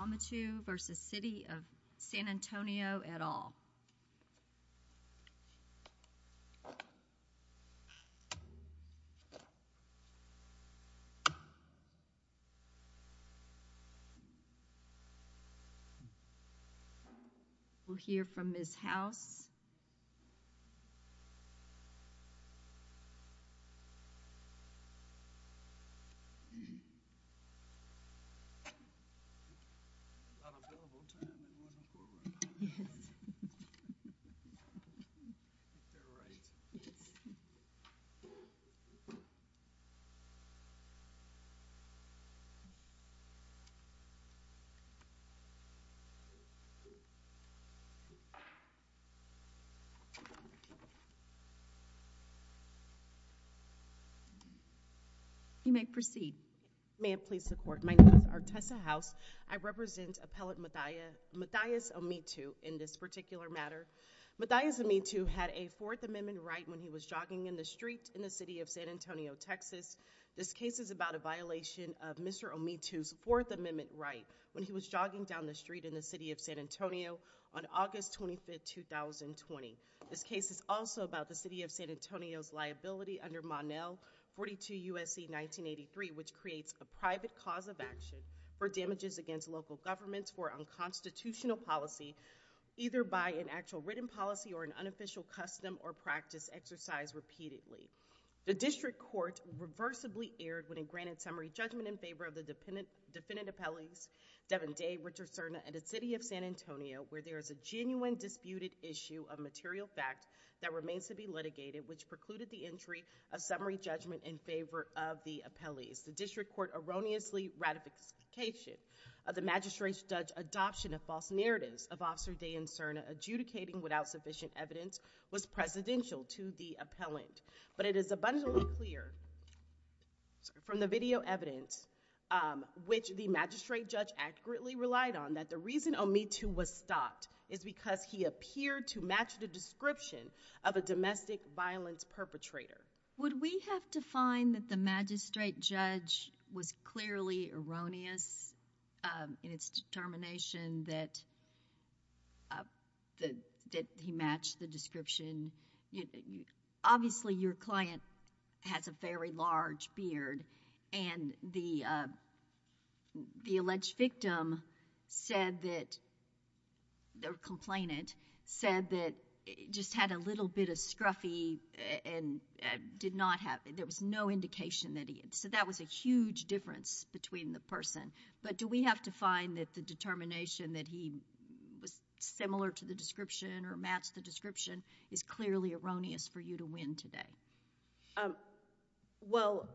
Ometu v. City of San Antonio et al. We'll hear from Ms. House. You may proceed, ma'am, please support. My name is Artesa House. I represent Appellant Mathias Ometu in this particular matter. Mathias Ometu had a Fourth Amendment right when he was jogging in the street in the City of San Antonio, Texas. This case is about a violation of Mr. Ometu's Fourth Amendment right when he was jogging down the street in the City of San Antonio on August 25, 2020. This case is also about the City of San Antonio's liability under Monel 42 U.S.C. 1983, which creates a private cause of action for damages against local governments for unconstitutional policy, either by an actual written policy or an unofficial custom or practice exercised repeatedly. The District Court reversibly erred when it granted summary judgment in favor of the defendant appellees, Devin Day, Richard Cerna, and the City of San Antonio, where there is a genuine disputed issue of material fact that remains to be litigated, which precluded the entry of summary judgment in favor of the appellees. The District Court erroneously ratification of the magistrate's judge adoption of false narratives of Officer Day and Cerna adjudicating without sufficient evidence was presidential to the appellant. But it is abundantly clear from the video evidence which the magistrate judge accurately relied on that the reason Ometu was stopped is because he appeared to match the description of a domestic violence perpetrator. Would we have to find that the magistrate judge was clearly erroneous in its determination that he matched the description? Obviously, your client has a very large beard, and the alleged victim said that, or complainant, said that it just had a little bit of scruffy and did not have, there was no indication that he, so that was a huge difference between the person. But do we have to find that the determination that he was similar to the description or matched the description is clearly erroneous for you to win today? Well,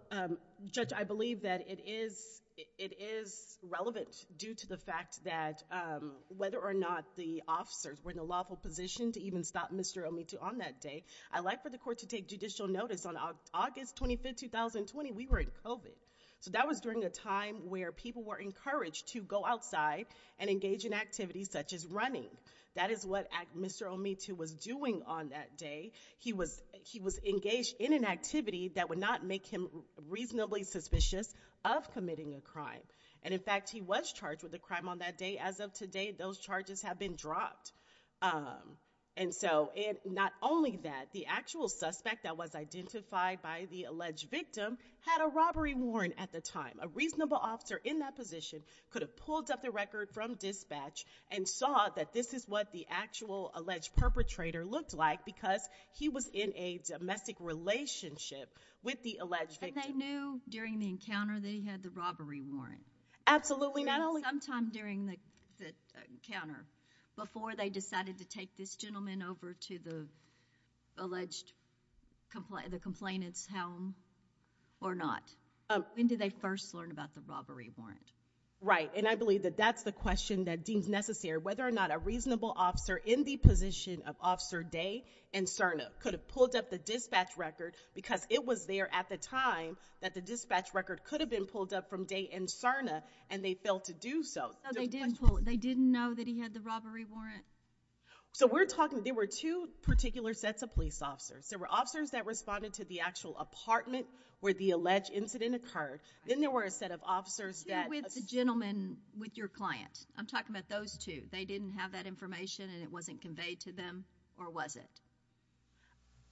Judge, I believe that it is relevant due to the fact that whether or not the officers were in a lawful position to even stop Mr. Ometu on that day, I'd like for the court to take judicial notice. On August 25th, 2020, we were in COVID. So that was during a time where people were encouraged to go outside and engage in activities such as running. That is what Mr. Ometu was doing on that day. He was engaged in an activity that would not make him reasonably suspicious of committing a crime. And in fact, he was charged with a crime on that day. As of today, those charges have been dropped. And so, and not only that, the actual suspect that was identified by the alleged victim had a robbery warrant at the time. A reasonable officer in that position could have pulled up the record from dispatch and saw that this is what the actual alleged perpetrator looked like because he was in a domestic relationship with the alleged victim. And they knew during the encounter that he had the robbery warrant? Absolutely, not only- Sometime during the encounter, before they decided to take this gentleman over to the alleged, the complainant's home or not, when did they first learn about the robbery warrant? Right, and I believe that that's the question that deems necessary. Whether or not a reasonable officer in the position of Officer Day and Cerna could have pulled up the dispatch record because it was there at the time that the dispatch record could have been pulled up from Day and Cerna, and they failed to do so. No, they didn't know that he had the robbery warrant? So we're talking, there were two particular sets of police officers. There were officers that responded to the actual apartment where the alleged incident occurred. Then there were a set of officers that- Who with the gentleman with your client? I'm talking about those two. They didn't have that information and it wasn't conveyed to them, or was it?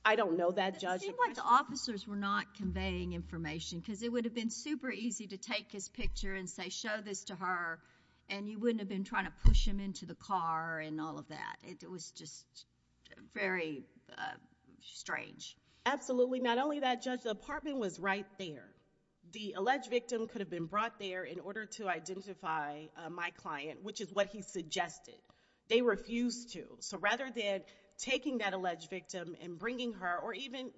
I don't know that, Judge. It seemed like the officers were not conveying information because it would have been super easy to take his picture and say, show this to her, and you wouldn't have been trying to push him into the car and all of that. It was just very strange. Absolutely, not only that, Judge, the apartment was right there. The alleged victim could have been brought there in order to identify my client, which is what he suggested. They refused to, so rather than taking that alleged victim and bringing her, or even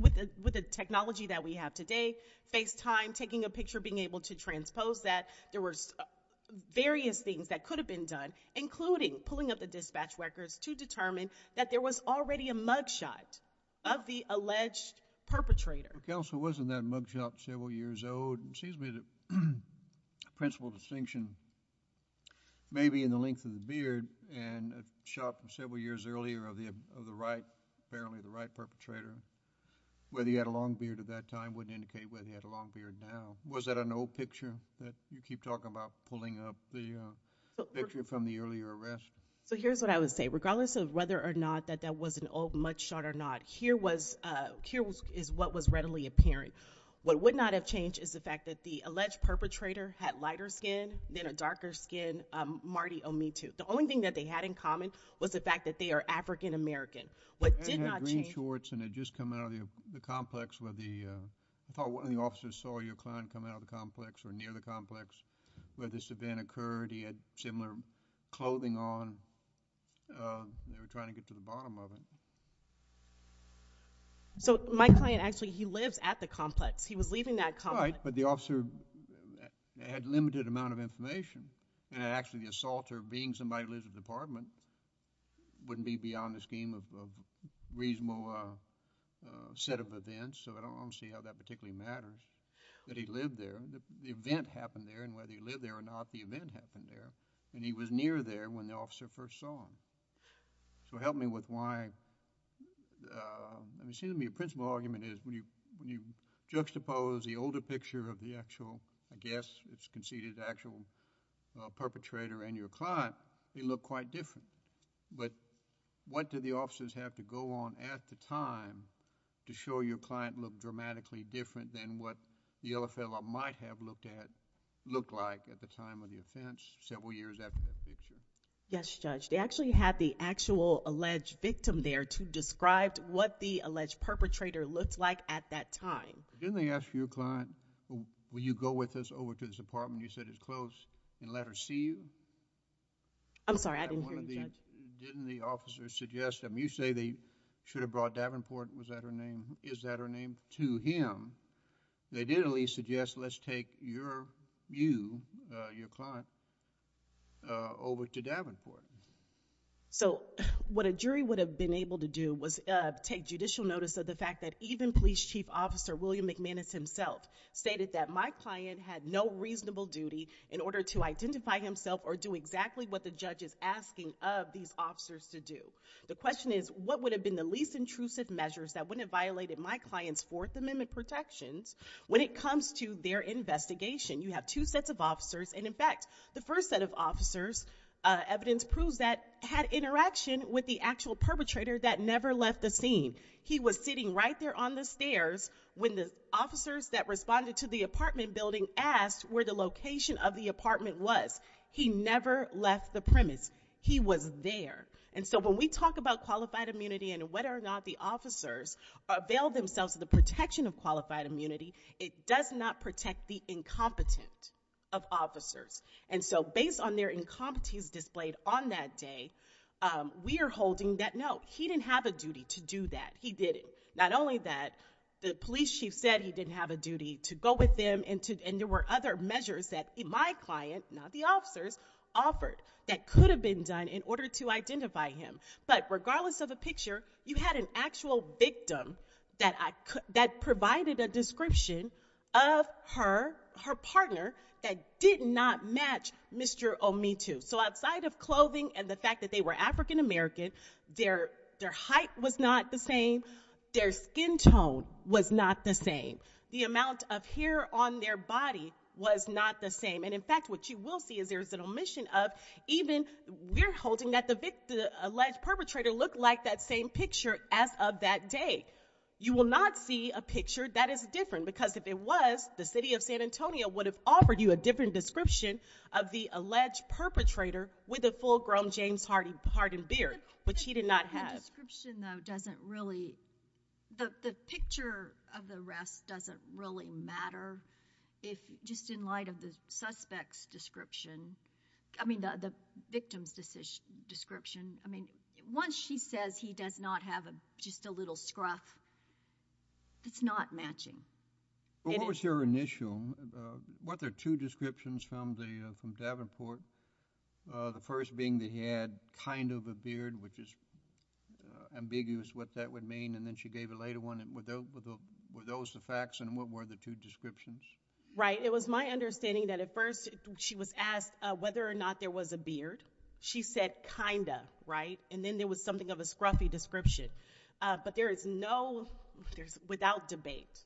with the technology that we have today, FaceTime, taking a picture, being able to transpose that, there were various things that could have been done, including pulling up the dispatch records to determine that there was already a mugshot of the alleged perpetrator. Counsel, wasn't that mugshot several years old? It seems to me that the principal distinction may be in the length of the beard and a shot from several years earlier of the right, apparently the right perpetrator, whether he had a long beard at that time wouldn't indicate whether he had a long beard now. Was that an old picture that you keep talking about pulling up the picture from the earlier arrest? So here's what I would say. Regardless of whether or not that that was an old mugshot or not, here is what was readily apparent. What would not have changed is the fact that the alleged perpetrator had lighter skin than a darker skin Marty Omitu. The only thing that they had in common was the fact that they are African American. What did not change. He had green shorts and had just come out of the complex where the, I thought one of the officers saw your client come out of the complex or near the complex where this event occurred. He had similar clothing on. They were trying to get to the bottom of it. So my client actually, he lives at the complex. He was leaving that complex. Right, but the officer had limited amount of information. And actually the assaulter, being somebody who lives at the department, wouldn't be beyond the scheme of reasonable set of events. So I don't see how that particularly matters. But he lived there. The event happened there. And whether he lived there or not, the event happened there. And he was near there when the officer first saw him. So help me with why, it seems to me a principle argument is when you juxtapose the older picture of the actual, I guess it's conceded the actual perpetrator and your client, they look quite different. But what do the officers have to go on at the time to show your client looked dramatically different than what the other fellow might have looked at, looked like at the time of the offense several years after that picture? Yes, Judge, they actually had the actual alleged victim there to describe what the alleged perpetrator looked like at that time. Didn't they ask your client, will you go with us over to this apartment you said is closed and let her see you? I'm sorry, I didn't hear you, Judge. Didn't the officers suggest them, you say they should have brought Davenport, was that her name, is that her name, to him. They didn't at least suggest let's take your, you, your client, over to Davenport. So what a jury would have been able to do was take judicial notice of the fact that even police chief officer William McManus himself stated that my client had no reasonable duty in order to identify himself or do exactly what the judge is asking of these officers to do. The question is, what would have been the least intrusive measures that wouldn't have violated my client's Fourth Amendment protections when it comes to their investigation? You have two sets of officers, and in fact, the first set of officers' evidence proves that had interaction with the actual perpetrator that never left the scene. He was sitting right there on the stairs when the officers that responded to the apartment building asked where the location of the apartment was. He never left the premise. He was there. And so when we talk about qualified immunity and whether or not the officers avail themselves of the protection of qualified immunity, it does not protect the incompetent of officers. And so based on their incompetence displayed on that day, we are holding that note. He didn't have a duty to do that, he didn't. Not only that, the police chief said he didn't have a duty to go with them and there were other measures that my client, not the officers, offered that could have been done in order to identify him. But regardless of the picture, you had an actual victim that provided a description of her partner that did not match Mr. Omitu. So outside of clothing and the fact that they were African American, their height was not the same, their skin tone was not the same. The amount of hair on their body was not the same. And in fact, what you will see is there is an omission of even, we're holding that the alleged perpetrator looked like that same picture as of that day. You will not see a picture that is different because if it was, the city of San Antonio would have offered you a different description of the alleged perpetrator with a full-grown James Harden beard, which he did not have. The description, though, doesn't really, the picture of the arrest doesn't really matter if just in light of the suspect's description, I mean the victim's description. I mean, once she says he does not have just a little scruff, it's not matching. What was your initial, what, there are two descriptions from Davenport, the first being that he had kind of a beard, which is ambiguous what that would mean, and then she gave a later one, and were those the facts, and what were the two descriptions? Right, it was my understanding that at first she was asked whether or not there was a beard. She said kinda, right? And then there was something of a scruffy description. But there is no, without debate,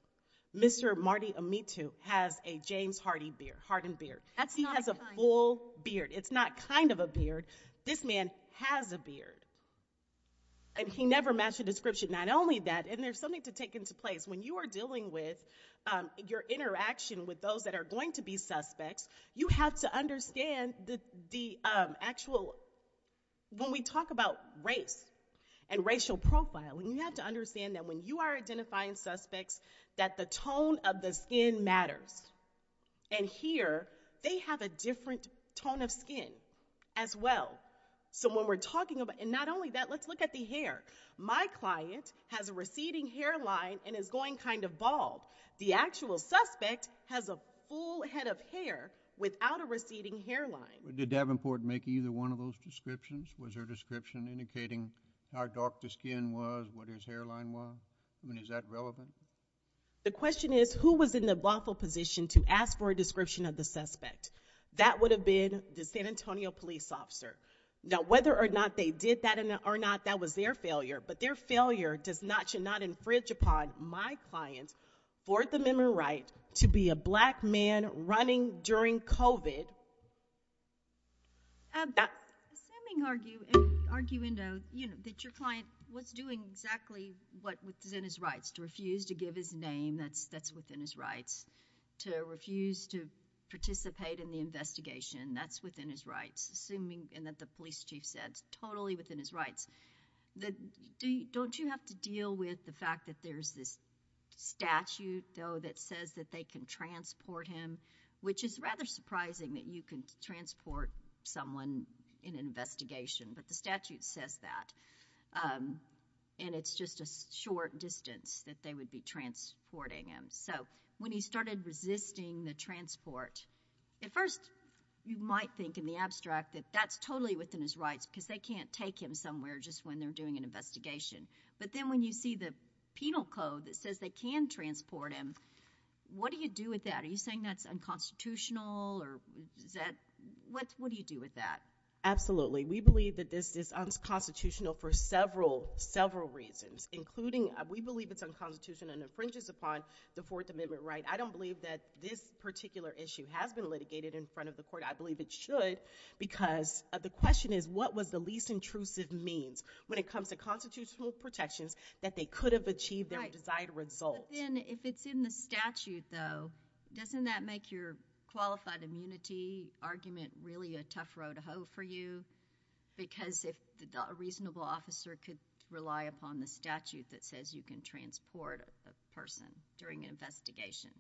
Mr. Marty Amitu has a James Harden beard. That's not a sign. He has a full beard. It's not kind of a beard. This man has a beard. And he never matched the description. Not only that, and there's something to take into place. When you are dealing with your interaction with those that are going to be suspects, you have to understand the actual, when we talk about race and racial profiling, you have to understand that when you are identifying suspects, that the tone of the skin matters. And here, they have a different tone of skin as well. So when we're talking about, and not only that, let's look at the hair. My client has a receding hairline and is going kind of bald. The actual suspect has a full head of hair without a receding hairline. Did Davenport make either one of those descriptions? Was her description indicating how dark the skin was, what his hairline was? I mean, is that relevant? The question is, who was in the lawful position to ask for a description of the suspect? That would have been the San Antonio police officer. Now, whether or not they did that or not, that was their failure. But their failure should not infringe upon my client for the minimum right to be a black man running during COVID. Does Samming argue that your client was doing exactly what is in his rights? To refuse to give his name, that's within his rights. To refuse to participate in the investigation, that's within his rights, assuming, and that the police chief said, it's totally within his rights. Don't you have to deal with the fact that there's this statute, though, that says that they can transport him? Which is rather surprising that you can transport someone in an investigation, but the statute says that. And it's just a short distance that they would be transporting him. So, when he started resisting the transport, at first, you might think in the abstract that that's totally within his rights because they can't take him somewhere just when they're doing an investigation. But then when you see the penal code that says they can transport him, what do you do with that? Are you saying that's unconstitutional, or is that, what do you do with that? Absolutely. We believe that this is unconstitutional for several, several reasons, including we believe it's unconstitutional and infringes upon the Fourth Amendment right. I don't believe that this particular issue has been litigated in front of the court. I believe it should, because the question is, what was the least intrusive means when it comes to constitutional protections that they could have achieved their desired result? But then, if it's in the statute, though, doesn't that make your qualified immunity argument really a tough row to hoe for you? Because if a reasonable officer could rely upon the statute that says you can transport a person during an investigation.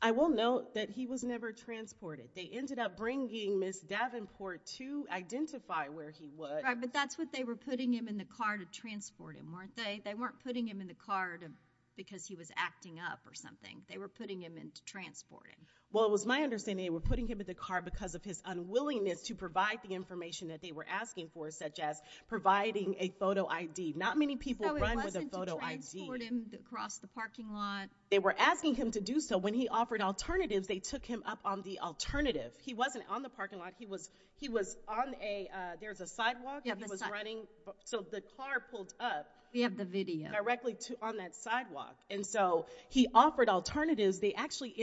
I will note that he was never transported. They ended up bringing Ms. Davenport to identify where he was. Right, but that's what they were putting him in the car to transport him, weren't they? They weren't putting him in the car because he was acting up or something. They were putting him in to transport him. Well, it was my understanding they were putting him in the car because of his unwillingness to provide the information that they were asking for, such as providing a photo ID. Not many people run with a photo ID. So it wasn't to transport him across the parking lot. They were asking him to do so. When he offered alternatives, they took him up on the alternative. He wasn't on the parking lot. He was on a, there's a sidewalk. Yeah, the sidewalk. So the car pulled up. We have the video. Directly on that sidewalk. And so he offered alternatives. They actually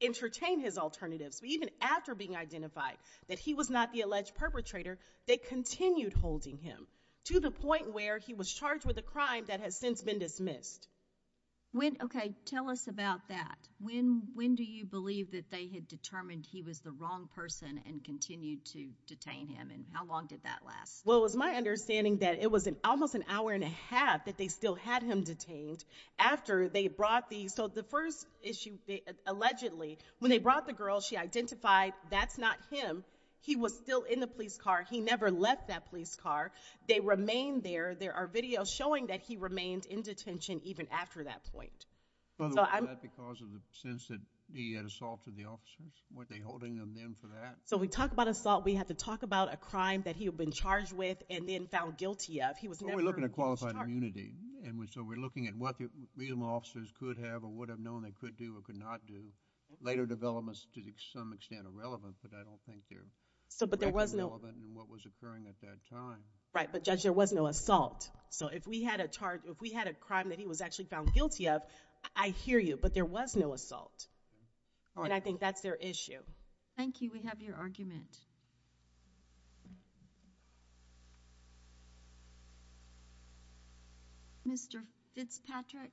entertained his alternatives. But even after being identified that he was not the alleged perpetrator, they continued holding him to the point where he was charged with a crime that has since been dismissed. When, okay, tell us about that. When do you believe that they had determined he was the wrong person and continued to detain him? And how long did that last? Well, it was my understanding that it was almost an hour and a half that they still had him detained after they brought the, so the first issue, allegedly, when they brought the girl, she identified that's not him. He was still in the police car. He never left that police car. They remained there. There are videos showing that he remained in detention even after that point. So I'm. Was that because of the sense that he had assaulted the officers? Weren't they holding him then for that? So we talk about assault, we have to talk about a crime that he had been charged with and then found guilty of. He was never charged. So we're looking at qualified immunity. And so we're looking at what the officers could have or would have known they could do or could not do. Later developments, to some extent, are relevant, but I don't think they're. So, but there was no. Relevant in what was occurring at that time. Right, but Judge, there was no assault. So if we had a charge, if we had a crime that he was actually found guilty of, I hear you, but there was no assault. And I think that's their issue. Thank you, we have your argument. Mr. Fitzpatrick.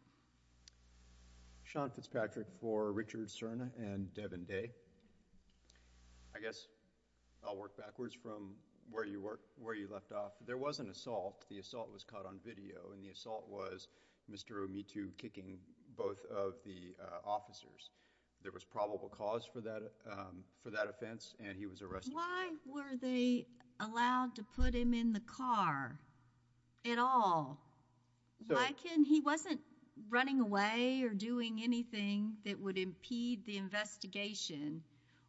Sean Fitzpatrick for Richard Cerna and Devin Day. I guess I'll work backwards from where you left off. There was an assault. The assault was caught on video and the assault was Mr. Umetu kicking both of the officers. There was probable cause for that offense and he was arrested. Why were they allowed to put him in the car at all? Why can't, he wasn't running away or doing anything that would impede the investigation.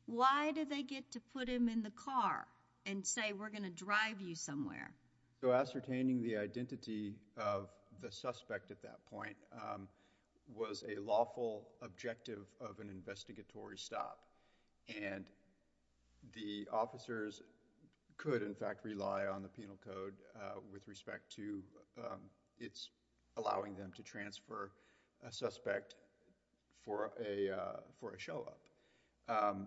Why did they get to put him in the car and say we're gonna drive you somewhere? So ascertaining the identity of the suspect at that point was a lawful objective of an investigatory stop. And the officers could, in fact, rely on the penal code with respect to its allowing them to transfer a suspect for a show up.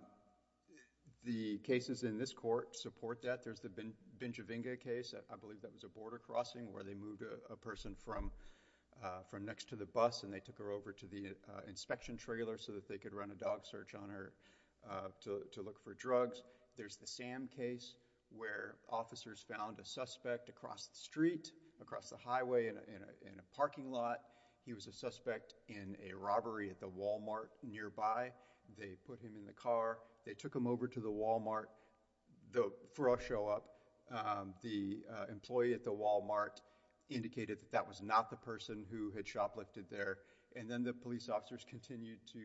The cases in this court support that. There's the Benjavinga case. I believe that was a border crossing where they moved a person from next to the bus and they took her over to the inspection trailer so that they could run a dog search on her to look for drugs. There's the Sam case where officers found a suspect across the street, across the highway in a parking lot. He was a suspect in a robbery at the Walmart nearby. They put him in the car. They took him over to the Walmart for a show up. The employee at the Walmart indicated that that was not the person who had shoplifted there and then the police officers continued to,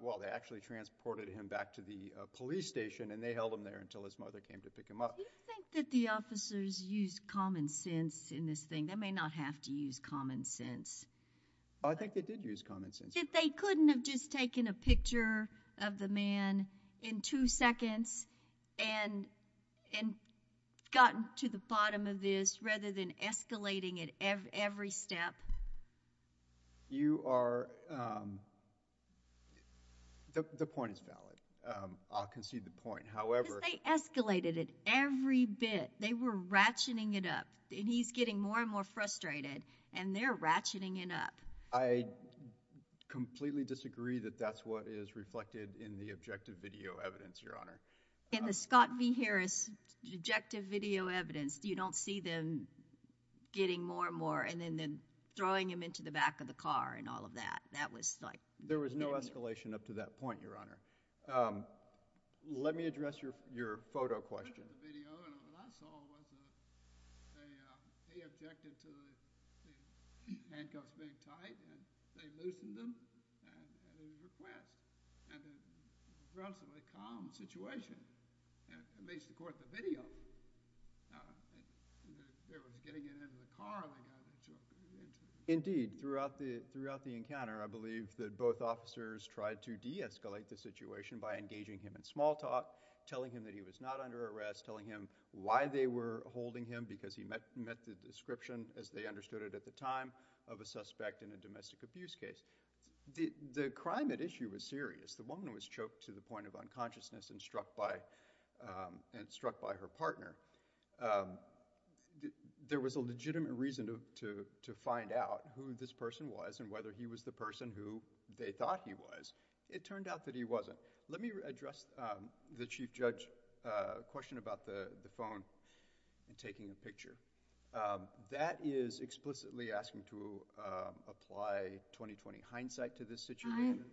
well, they actually transported him back to the police station and they held him there until his mother came to pick him up. Do you think that the officers used common sense in this thing? They may not have to use common sense. I think they did use common sense. If they couldn't have just taken a picture of the man in two seconds and gotten to the bottom of this rather than escalating it every step. You are, but the point is valid. I'll concede the point. However. Because they escalated it every bit. They were ratcheting it up and he's getting more and more frustrated and they're ratcheting it up. I completely disagree that that's what is reflected in the objective video evidence, Your Honor. In the Scott V. Harris objective video evidence, you don't see them getting more and more and then throwing him into the back of the car and all of that. That was like. There was no escalation up to that point, Your Honor. Let me address your photo question. The question of the video and what I saw was that they objected to the handcuffs being tight and they loosened them at his request. And it was an aggressively calm situation. And at least, of course, the video. They were getting it in the car. And then they got him to jump in the engine. Indeed, throughout the encounter, I believe that both officers tried to deescalate the situation by engaging him in small talk, telling him that he was not under arrest, telling him why they were holding him because he met the description, as they understood it at the time, of a suspect in a domestic abuse case. The crime at issue was serious. The woman was choked to the point of unconsciousness and struck by her partner. There was a legitimate reason to find out who this person was and whether he was the person who they thought he was. It turned out that he wasn't. Let me address the Chief Judge question about the phone and taking a picture. That is explicitly asking to apply 20-20 hindsight to this situation.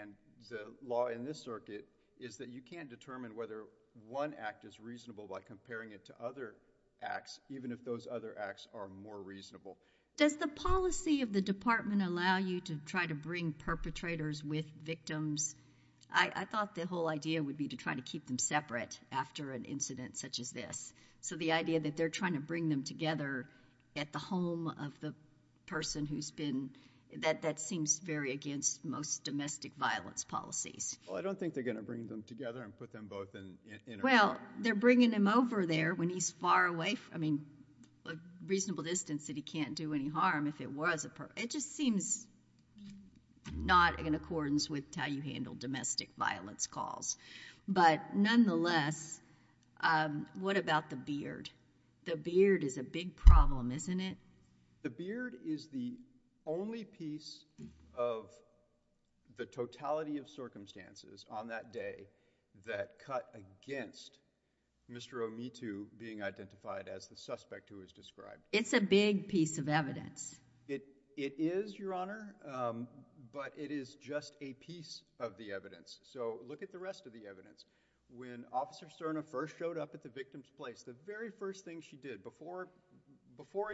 And the law in this circuit is that you can't determine whether one act is reasonable by comparing it to other acts, even if those other acts are more reasonable. Does the policy of the department allow you to try to bring perpetrators with victims? I thought the whole idea would be to try to keep them separate after an incident such as this. So the idea that they're trying to bring them together at the home of the person who's been, that seems very against most domestic violence policies. Well, I don't think they're gonna bring them together and put them both in a room. Well, they're bringing him over there when he's far away, I mean, a reasonable distance that he can't do any harm if it was a, it just seems not in accordance with how you handle domestic violence calls. But nonetheless, what about the beard? The beard is a big problem, isn't it? The beard is the only piece of the totality of circumstances on that day that cut against Mr. Omitu being identified as the suspect who was described. It's a big piece of evidence. It is, Your Honor, but it is just a piece of the evidence. So look at the rest of the evidence. When Officer Serna first showed up at the victim's place, the very first thing she did before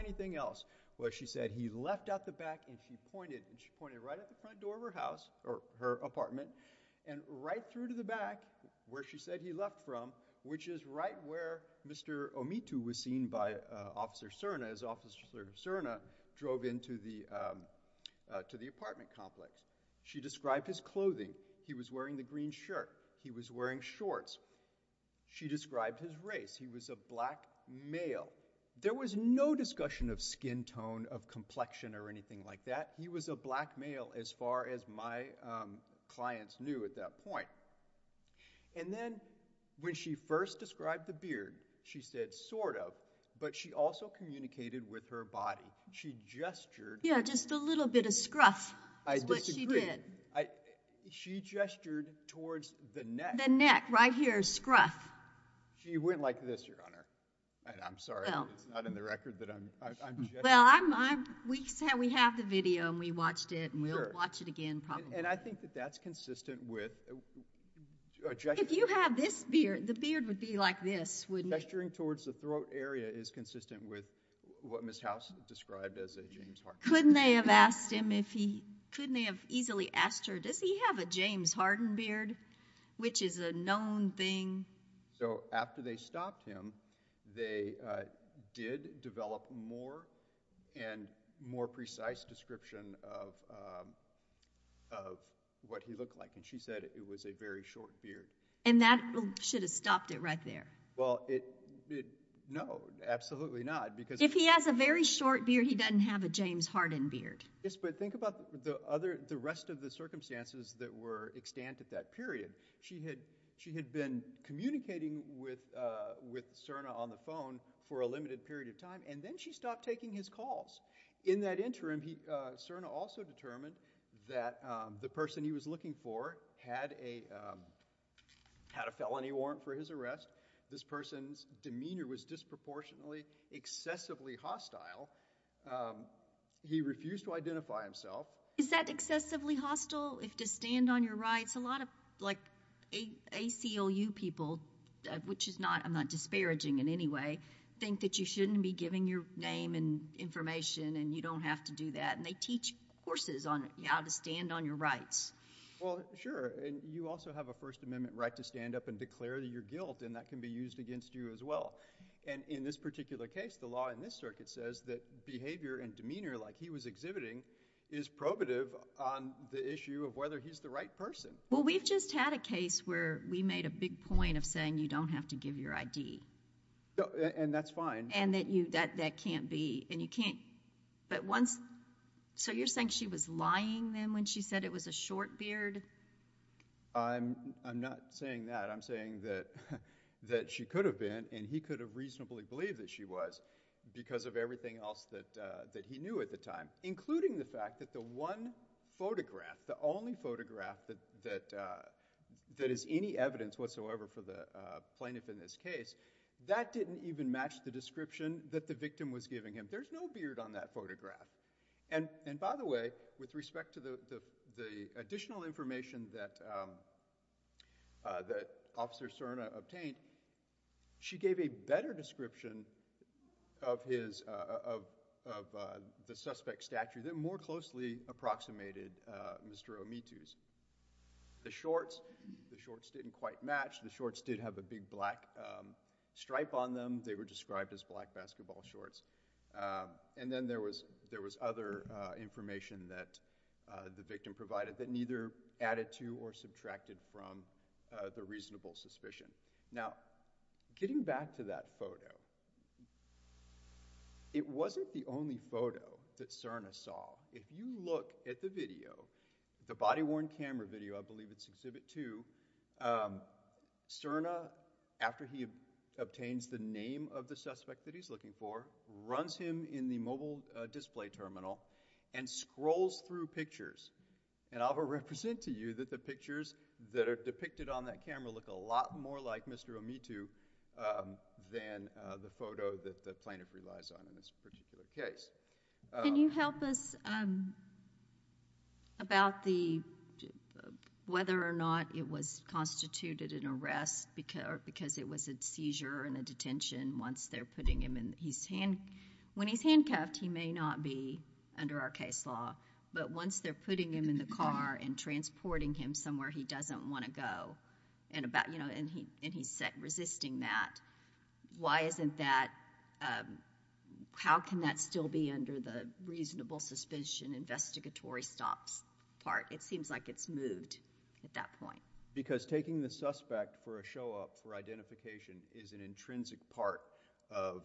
anything else was she said he left out the back and she pointed, and she pointed right at the front door of her house, or her apartment, and right through to the back where she said he left from, which is right where Mr. Omitu was seen by Officer Serna as Officer Serna drove into the apartment complex. She described his clothing. He was wearing the green shirt. He was wearing shorts. She described his race. He was a black male. There was no discussion of skin tone, of complexion, or anything like that. He was a black male as far as my clients knew at that point. And then when she first described the beard, she said sort of, but she also communicated with her body. She gestured. Yeah, just a little bit of scruff is what she did. She gestured towards the neck. The neck, right here, scruff. She went like this, Your Honor. And I'm sorry, it's not in the record that I'm gesturing. Well, we have the video, and we watched it, and we'll watch it again probably. And I think that that's consistent with a gesture. If you have this beard, the beard would be like this, wouldn't it? Gesturing towards the throat area is consistent with what Ms. House described as a James Harden beard. Couldn't they have asked him if he, couldn't they have easily asked her, does he have a James Harden beard, which is a known thing? So after they stopped him, they did develop more and more precise description of what he looked like, and she said it was a very short beard. And that should have stopped it right there. Well, no, absolutely not, because- If he has a very short beard, he doesn't have a James Harden beard. Yes, but think about the rest of the circumstances that were extant at that period. She had been communicating with Cerna on the phone for a limited period of time, and then she stopped taking his calls. In that interim, Cerna also determined that the person he was looking for had a felony warrant for his arrest. This person's demeanor was disproportionately, excessively hostile. He refused to identify himself. Is that excessively hostile, if to stand on your rights? A lot of ACLU people, which I'm not disparaging in any way, think that you shouldn't be giving your name and information, and you don't have to do that, and they teach courses on how to stand on your rights. Well, sure, and you also have a First Amendment right to stand up and declare your guilt, and that can be used against you as well. And in this particular case, the law in this circuit says that behavior and demeanor like he was exhibiting is probative on the issue of whether he's the right person. Well, we've just had a case where we made a big point of saying you don't have to give your ID. And that's fine. And that can't be, and you can't, but once, so you're saying she was lying then when she said it was a short beard? I'm not saying that. I'm saying that she could have been, and he could have reasonably believed that she was because of everything else that he knew at the time, including the fact that the one photograph, the only photograph that is any evidence whatsoever for the plaintiff in this case, that didn't even match the description that the victim was giving him. There's no beard on that photograph. And by the way, with respect to the additional information that Officer Serna obtained, she gave a better description of the suspect's behavior in the statute that more closely approximated Mr. Omitu's. The shorts, the shorts didn't quite match. The shorts did have a big black stripe on them. They were described as black basketball shorts. And then there was other information that the victim provided that neither added to or subtracted from the reasonable suspicion. Now, getting back to that photo, it wasn't the only photo that Serna saw. If you look at the video, the body-worn camera video, I believe it's exhibit two, Serna, after he obtains the name of the suspect that he's looking for, runs him in the mobile display terminal and scrolls through pictures. And I'll represent to you that the pictures that are depicted on that camera look a lot more like Mr. Omitu than the victim. The photo that the plaintiff relies on in this particular case. Can you help us about the, whether or not it was constituted an arrest because it was a seizure and a detention once they're putting him in, when he's handcuffed, he may not be under our case law, but once they're putting him in the car and transporting him somewhere he doesn't wanna go, and about, you know, and he's resisting that, why isn't that, how can that still be under the reasonable suspicion investigatory stops part? It seems like it's moved at that point. Because taking the suspect for a show up for identification is an intrinsic part of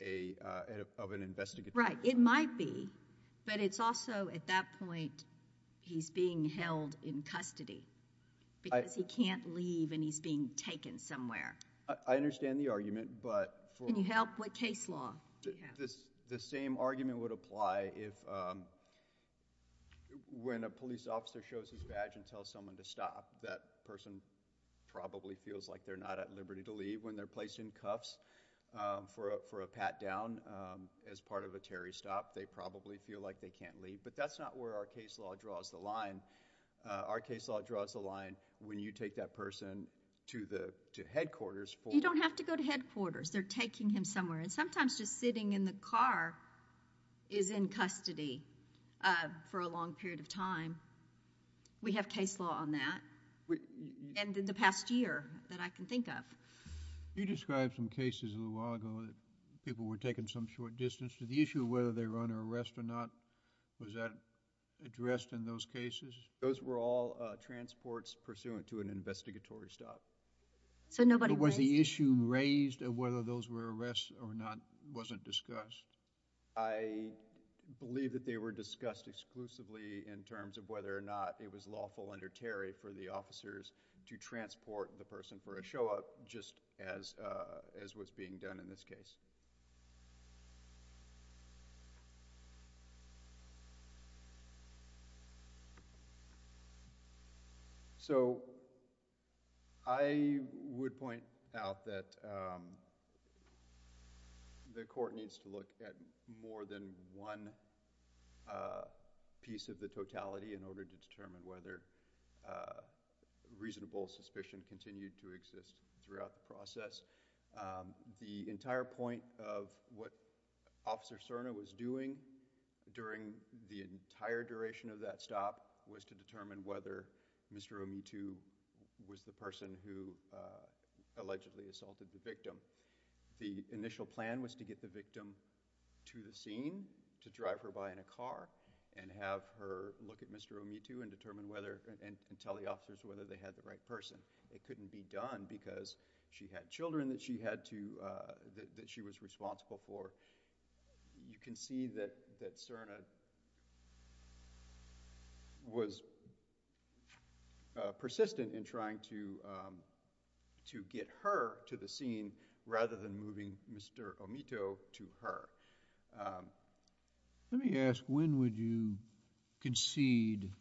an investigatory. Right, it might be, but it's also at that point he's being held in custody because he can't leave and he's being taken somewhere. I understand the argument, but for. Can you help, what case law? The same argument would apply if, when a police officer shows his badge and tells someone to stop, that person probably feels like they're not at liberty to leave. When they're placed in cuffs for a pat down as part of a Terry stop, they probably feel like they can't leave. But that's not where our case law draws the line. Our case law draws the line when you take that person to headquarters for. You don't have to go to headquarters. They're taking him somewhere. And sometimes just sitting in the car is in custody for a long period of time. We have case law on that. And in the past year that I can think of. You described some cases a little while ago that people were taken some short distance. Did the issue of whether they were under arrest or not, was that addressed in those cases? Those were all transports pursuant to an investigatory stop. So nobody was. But was the issue raised of whether those were arrests or not wasn't discussed? I believe that they were discussed exclusively in terms of whether or not it was lawful under Terry for the officers to transport the person for a show up just as was being done in this case. So, I would point out that the court needs to look at more than one piece of the totality in order to determine whether a reasonable suspicion continued to exist throughout the process. The entire point of the case law of what Officer Serna was doing during the entire duration of that stop was to determine whether Mr. Omitu was the person who allegedly assaulted the victim. The initial plan was to get the victim to the scene, to drive her by in a car, and have her look at Mr. Omitu and tell the officers whether they had the right person. It couldn't be done because she had children that she was responsible for. You can see that Serna was persistent in trying to get her to the scene rather than moving Mr. Omitu to her. Let me ask, when would you concede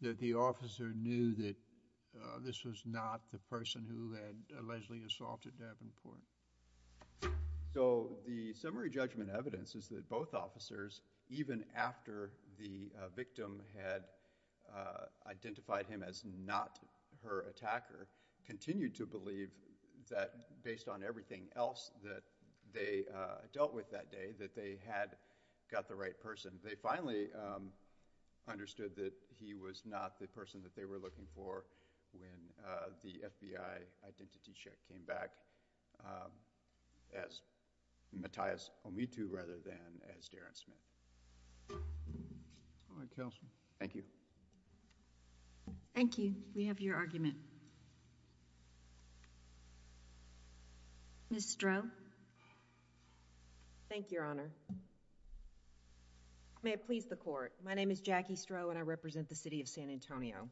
that the officer knew that this was not the person who had allegedly assaulted Davenport? So, the summary judgment evidence is that both officers, even after the victim had identified him as not her attacker, continued to believe that based on everything else that they dealt with that day, that they had got the right person. They finally understood that he was not the person that they were looking for when the FBI identity check came back as Matthias Omitu rather than as Darren Smith. All right, counsel. Thank you. Thank you. We have your argument. Ms. Stroh? Thank you, Your Honor. May it please the court. My name is Jackie Stroh and I represent the city of San Antonio.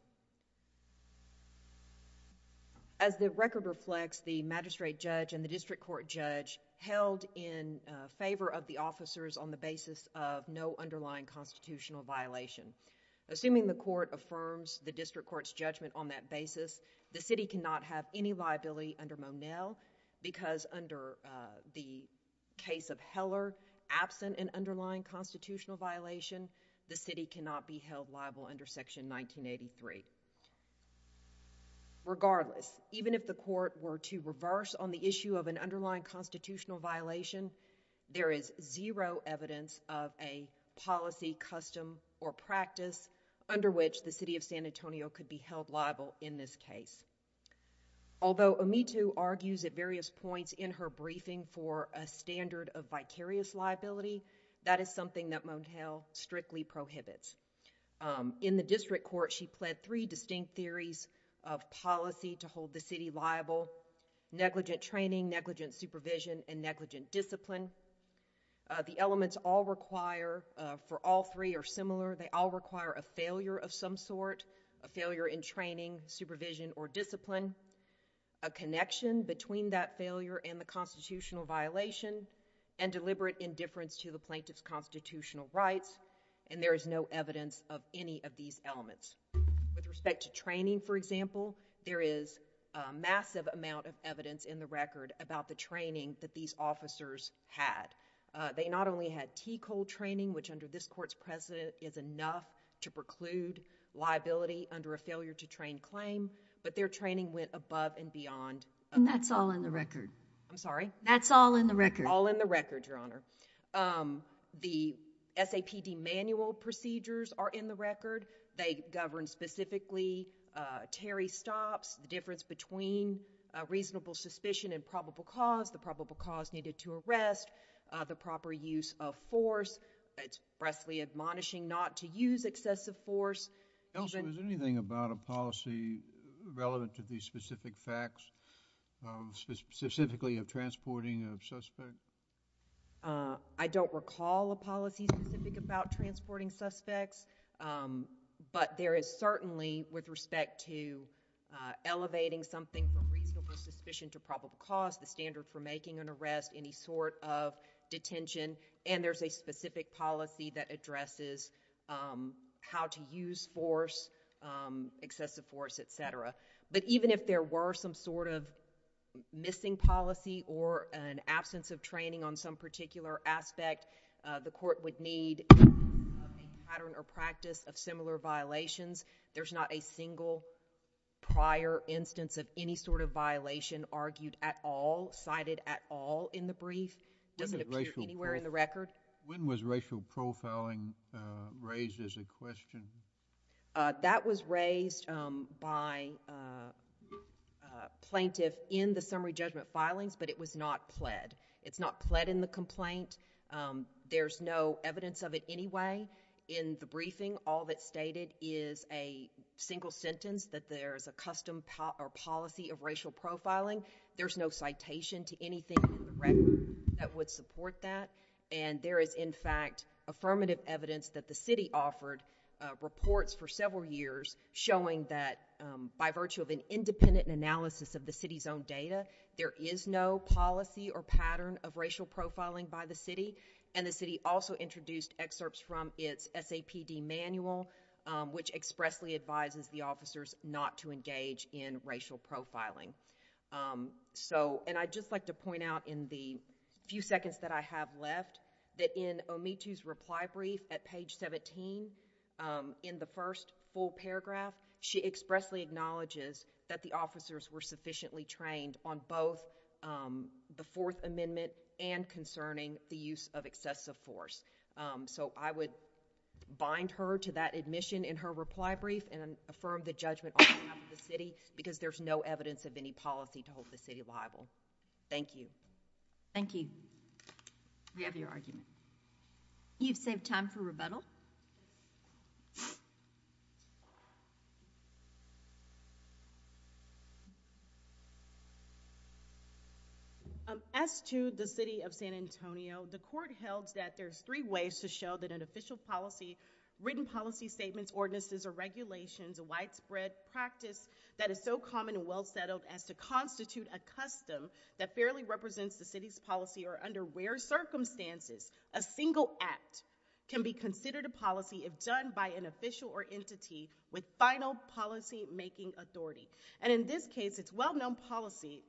As the record reflects, the magistrate judge and the district court judge held in favor of the officers on the basis of no underlying constitutional violation. Assuming the court affirms the district court's judgment on that basis, the city cannot have any liability under Monell because under the case of Heller, absent an underlying constitutional violation, the city cannot be held liable under section 1983. Regardless, even if the court were to reverse on the issue of an underlying constitutional violation, there is zero evidence of a policy, custom, or practice under which the city of San Antonio could be held liable in this case. Although Omitu argues at various points in her briefing for a standard of vicarious liability, that is something that Monell strictly prohibits. In the district court, she pled three distinct theories of policy to hold the city liable, negligent training, negligent supervision, and negligent discipline. The elements all require, for all three are similar, they all require a failure of some sort, a failure in training, supervision, or discipline, a connection between that failure and the constitutional violation, and deliberate indifference to the plaintiff's constitutional rights, and there is no evidence of any of these elements. With respect to training, for example, there is a massive amount of evidence in the record about the training that these officers had. They not only had TCOL training, which under this court's precedent is enough to preclude liability under a failure to train claim, but their training went above and beyond. And that's all in the record. I'm sorry? That's all in the record. All in the record, Your Honor. The SAPD manual procedures are in the record. They govern specifically Terry stops, the difference between a reasonable suspicion and probable cause, the probable cause needed to arrest, the proper use of force. It's presently admonishing not to use excessive force. Elsa, is there anything about a policy relevant to these specific facts, specifically of transporting a suspect? I don't recall a policy specific about transporting suspects, but there is certainly with respect to elevating something from reasonable suspicion to probable cause, the standard for making an arrest, any sort of detention, and there's a specific policy that addresses how to use force, excessive force, et cetera. But even if there were some sort of missing policy or an absence of training on some particular aspect, the court would need a pattern or practice of similar violations. There's not a single prior instance of any sort of violation argued at all, cited at all in the brief. Does it appear anywhere in the record? When was racial profiling raised as a question? That was raised by a plaintiff in the summary judgment filings, but it was not pled. It's not pled in the complaint. There's no evidence of it anyway. In the briefing, all that's stated is a single sentence that there's a custom or policy of racial profiling. There's no citation to anything in the record that would support that. And there is, in fact, affirmative evidence that the city offered reports for several years showing that by virtue of an independent analysis of the city's own data, there is no policy or pattern of racial profiling by the city, and the city also introduced excerpts from its SAPD manual, which expressly advises the officers not to engage in racial profiling. So, and I'd just like to point out in the few seconds that I have left, that in Omitu's reply brief at page 17, in the first full paragraph, she expressly acknowledges that the officers were sufficiently trained on both the Fourth Amendment and concerning the use of excessive force. So I would bind her to that admission in her reply brief and affirm the judgment on behalf of the city because there's no evidence of any policy to hold the city liable. Thank you. Thank you. We have your argument. You've saved time for rebuttal. As to the city of San Antonio, the court held that there's three ways to show that an official policy, written policy statements, ordinances, or regulations, a widespread practice that is so common and well settled as to constitute a custom that fairly represents the city's policy or under rare circumstances, a single act can be considered a policy if done by an official or entity with final policy-making authority. And in this case, it's well-known policy.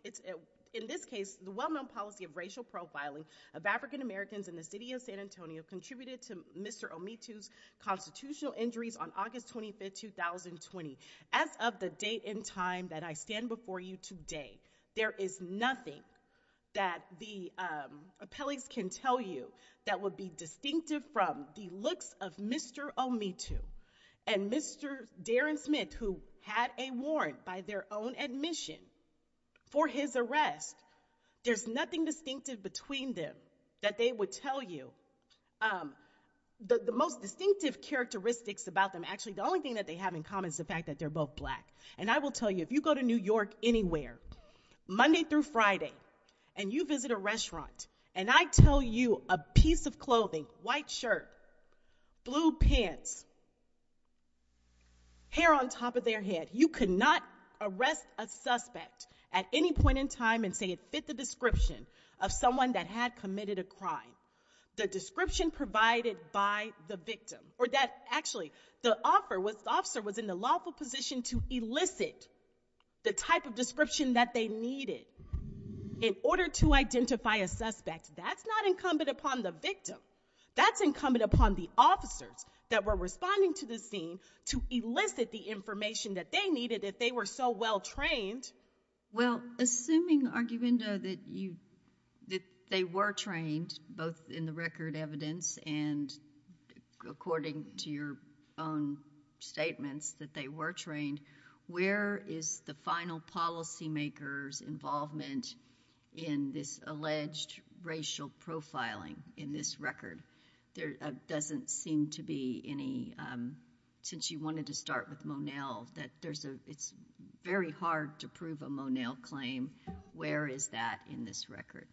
In this case, the well-known policy of racial profiling of African Americans in the city of San Antonio contributed to Mr. Omitu's constitutional injuries on August 25th, 2020. As of the date and time that I stand before you today, there is nothing that the appellees can tell you that would be distinctive from the looks of Mr. Omitu and Mr. Darren Smith, who had a warrant by their own admission for his arrest. There's nothing distinctive between them that they would tell you. The most distinctive characteristics about them, actually, the only thing that they have in common is the fact that they're both black. And I will tell you, if you go to New York anywhere, Monday through Friday, and you visit a restaurant, and I tell you a piece of clothing, white shirt, blue pants, hair on top of their head, you could not arrest a suspect at any point in time and say it fit the description of someone that had committed a crime. The description provided by the victim, or that, actually, the officer was in the lawful position to elicit the type of description that they needed in order to identify a suspect. That's not incumbent upon the victim. That's incumbent upon the officers that were responding to the scene to elicit the information that they needed if they were so well-trained. Well, assuming, Arguendo, that they were trained, both in the record evidence and according to your own statements, that they were trained, where is the final policymaker's involvement in this alleged racial profiling in this record? There doesn't seem to be any, since you wanted to start with Monell, that there's a, it's very hard to prove a Monell claim. Where is that in this record?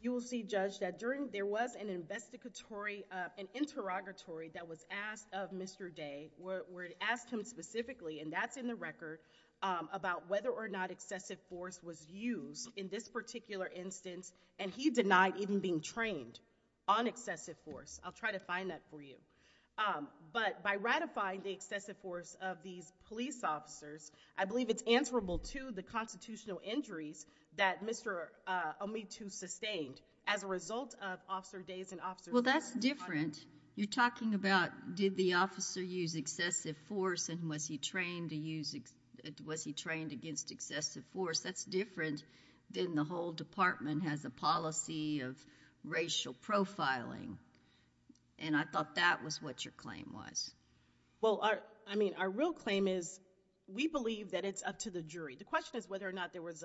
You will see, Judge, that during, there was an investigatory, an interrogatory that was asked of Mr. Day, where it asked him specifically, and that's in the record, about whether or not excessive force was used in this particular instance, and he denied even being trained on excessive force. I'll try to find that for you. But by ratifying the excessive force of these police officers, I believe it's answerable to the constitutional injuries that Mr. Omitu sustained as a result of Officer Day's and Officer Monell's- Well, that's different. You're talking about, did the officer use excessive force, and was he trained to use, was he trained against excessive force? That's different than the whole department has a policy of racial profiling, and I thought that was what your claim was. Well, I mean, our real claim is, we believe that it's up to the jury. The question is whether or not there was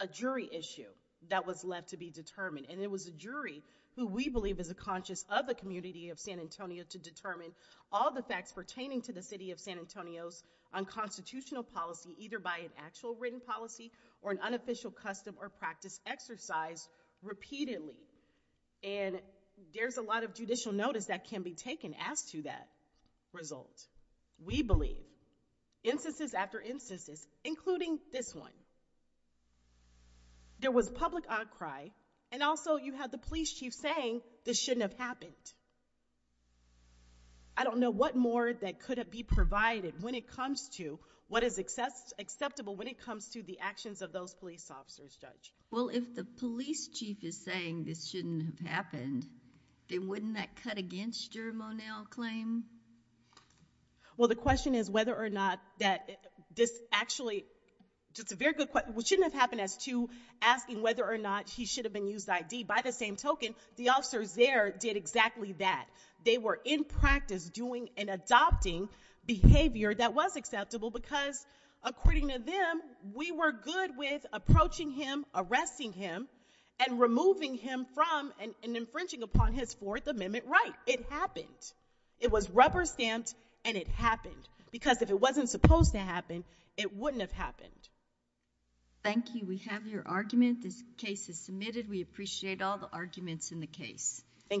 a jury issue that was left to be determined, and it was a jury who we believe is a conscious of the community of San Antonio to determine all the facts pertaining to the city of San Antonio's unconstitutional policy, either by an actual written policy or an unofficial custom or practice exercised repeatedly, and there's a lot of judicial notice that can be taken as to that result. We believe, instances after instances, including this one, there was public outcry, and also you had the police chief saying, this shouldn't have happened. I don't know what more that could be provided when it comes to what is acceptable when it comes to the actions of those police officers, Judge. Well, if the police chief is saying this shouldn't have happened, then wouldn't that cut against your Monell claim? Well, the question is whether or not that this actually, just a very good question, which shouldn't have happened as to asking whether or not he should have been used ID. By the same token, the officers there did exactly that. They were in practice doing and adopting behavior that was acceptable because according to them, we were good with approaching him, arresting him, and removing him from and infringing upon his Fourth Amendment right. It happened. It was rubber stamped and it happened because if it wasn't supposed to happen, it wouldn't have happened. Thank you. We have your argument. This case is submitted. We appreciate all the arguments in the case. Thank you.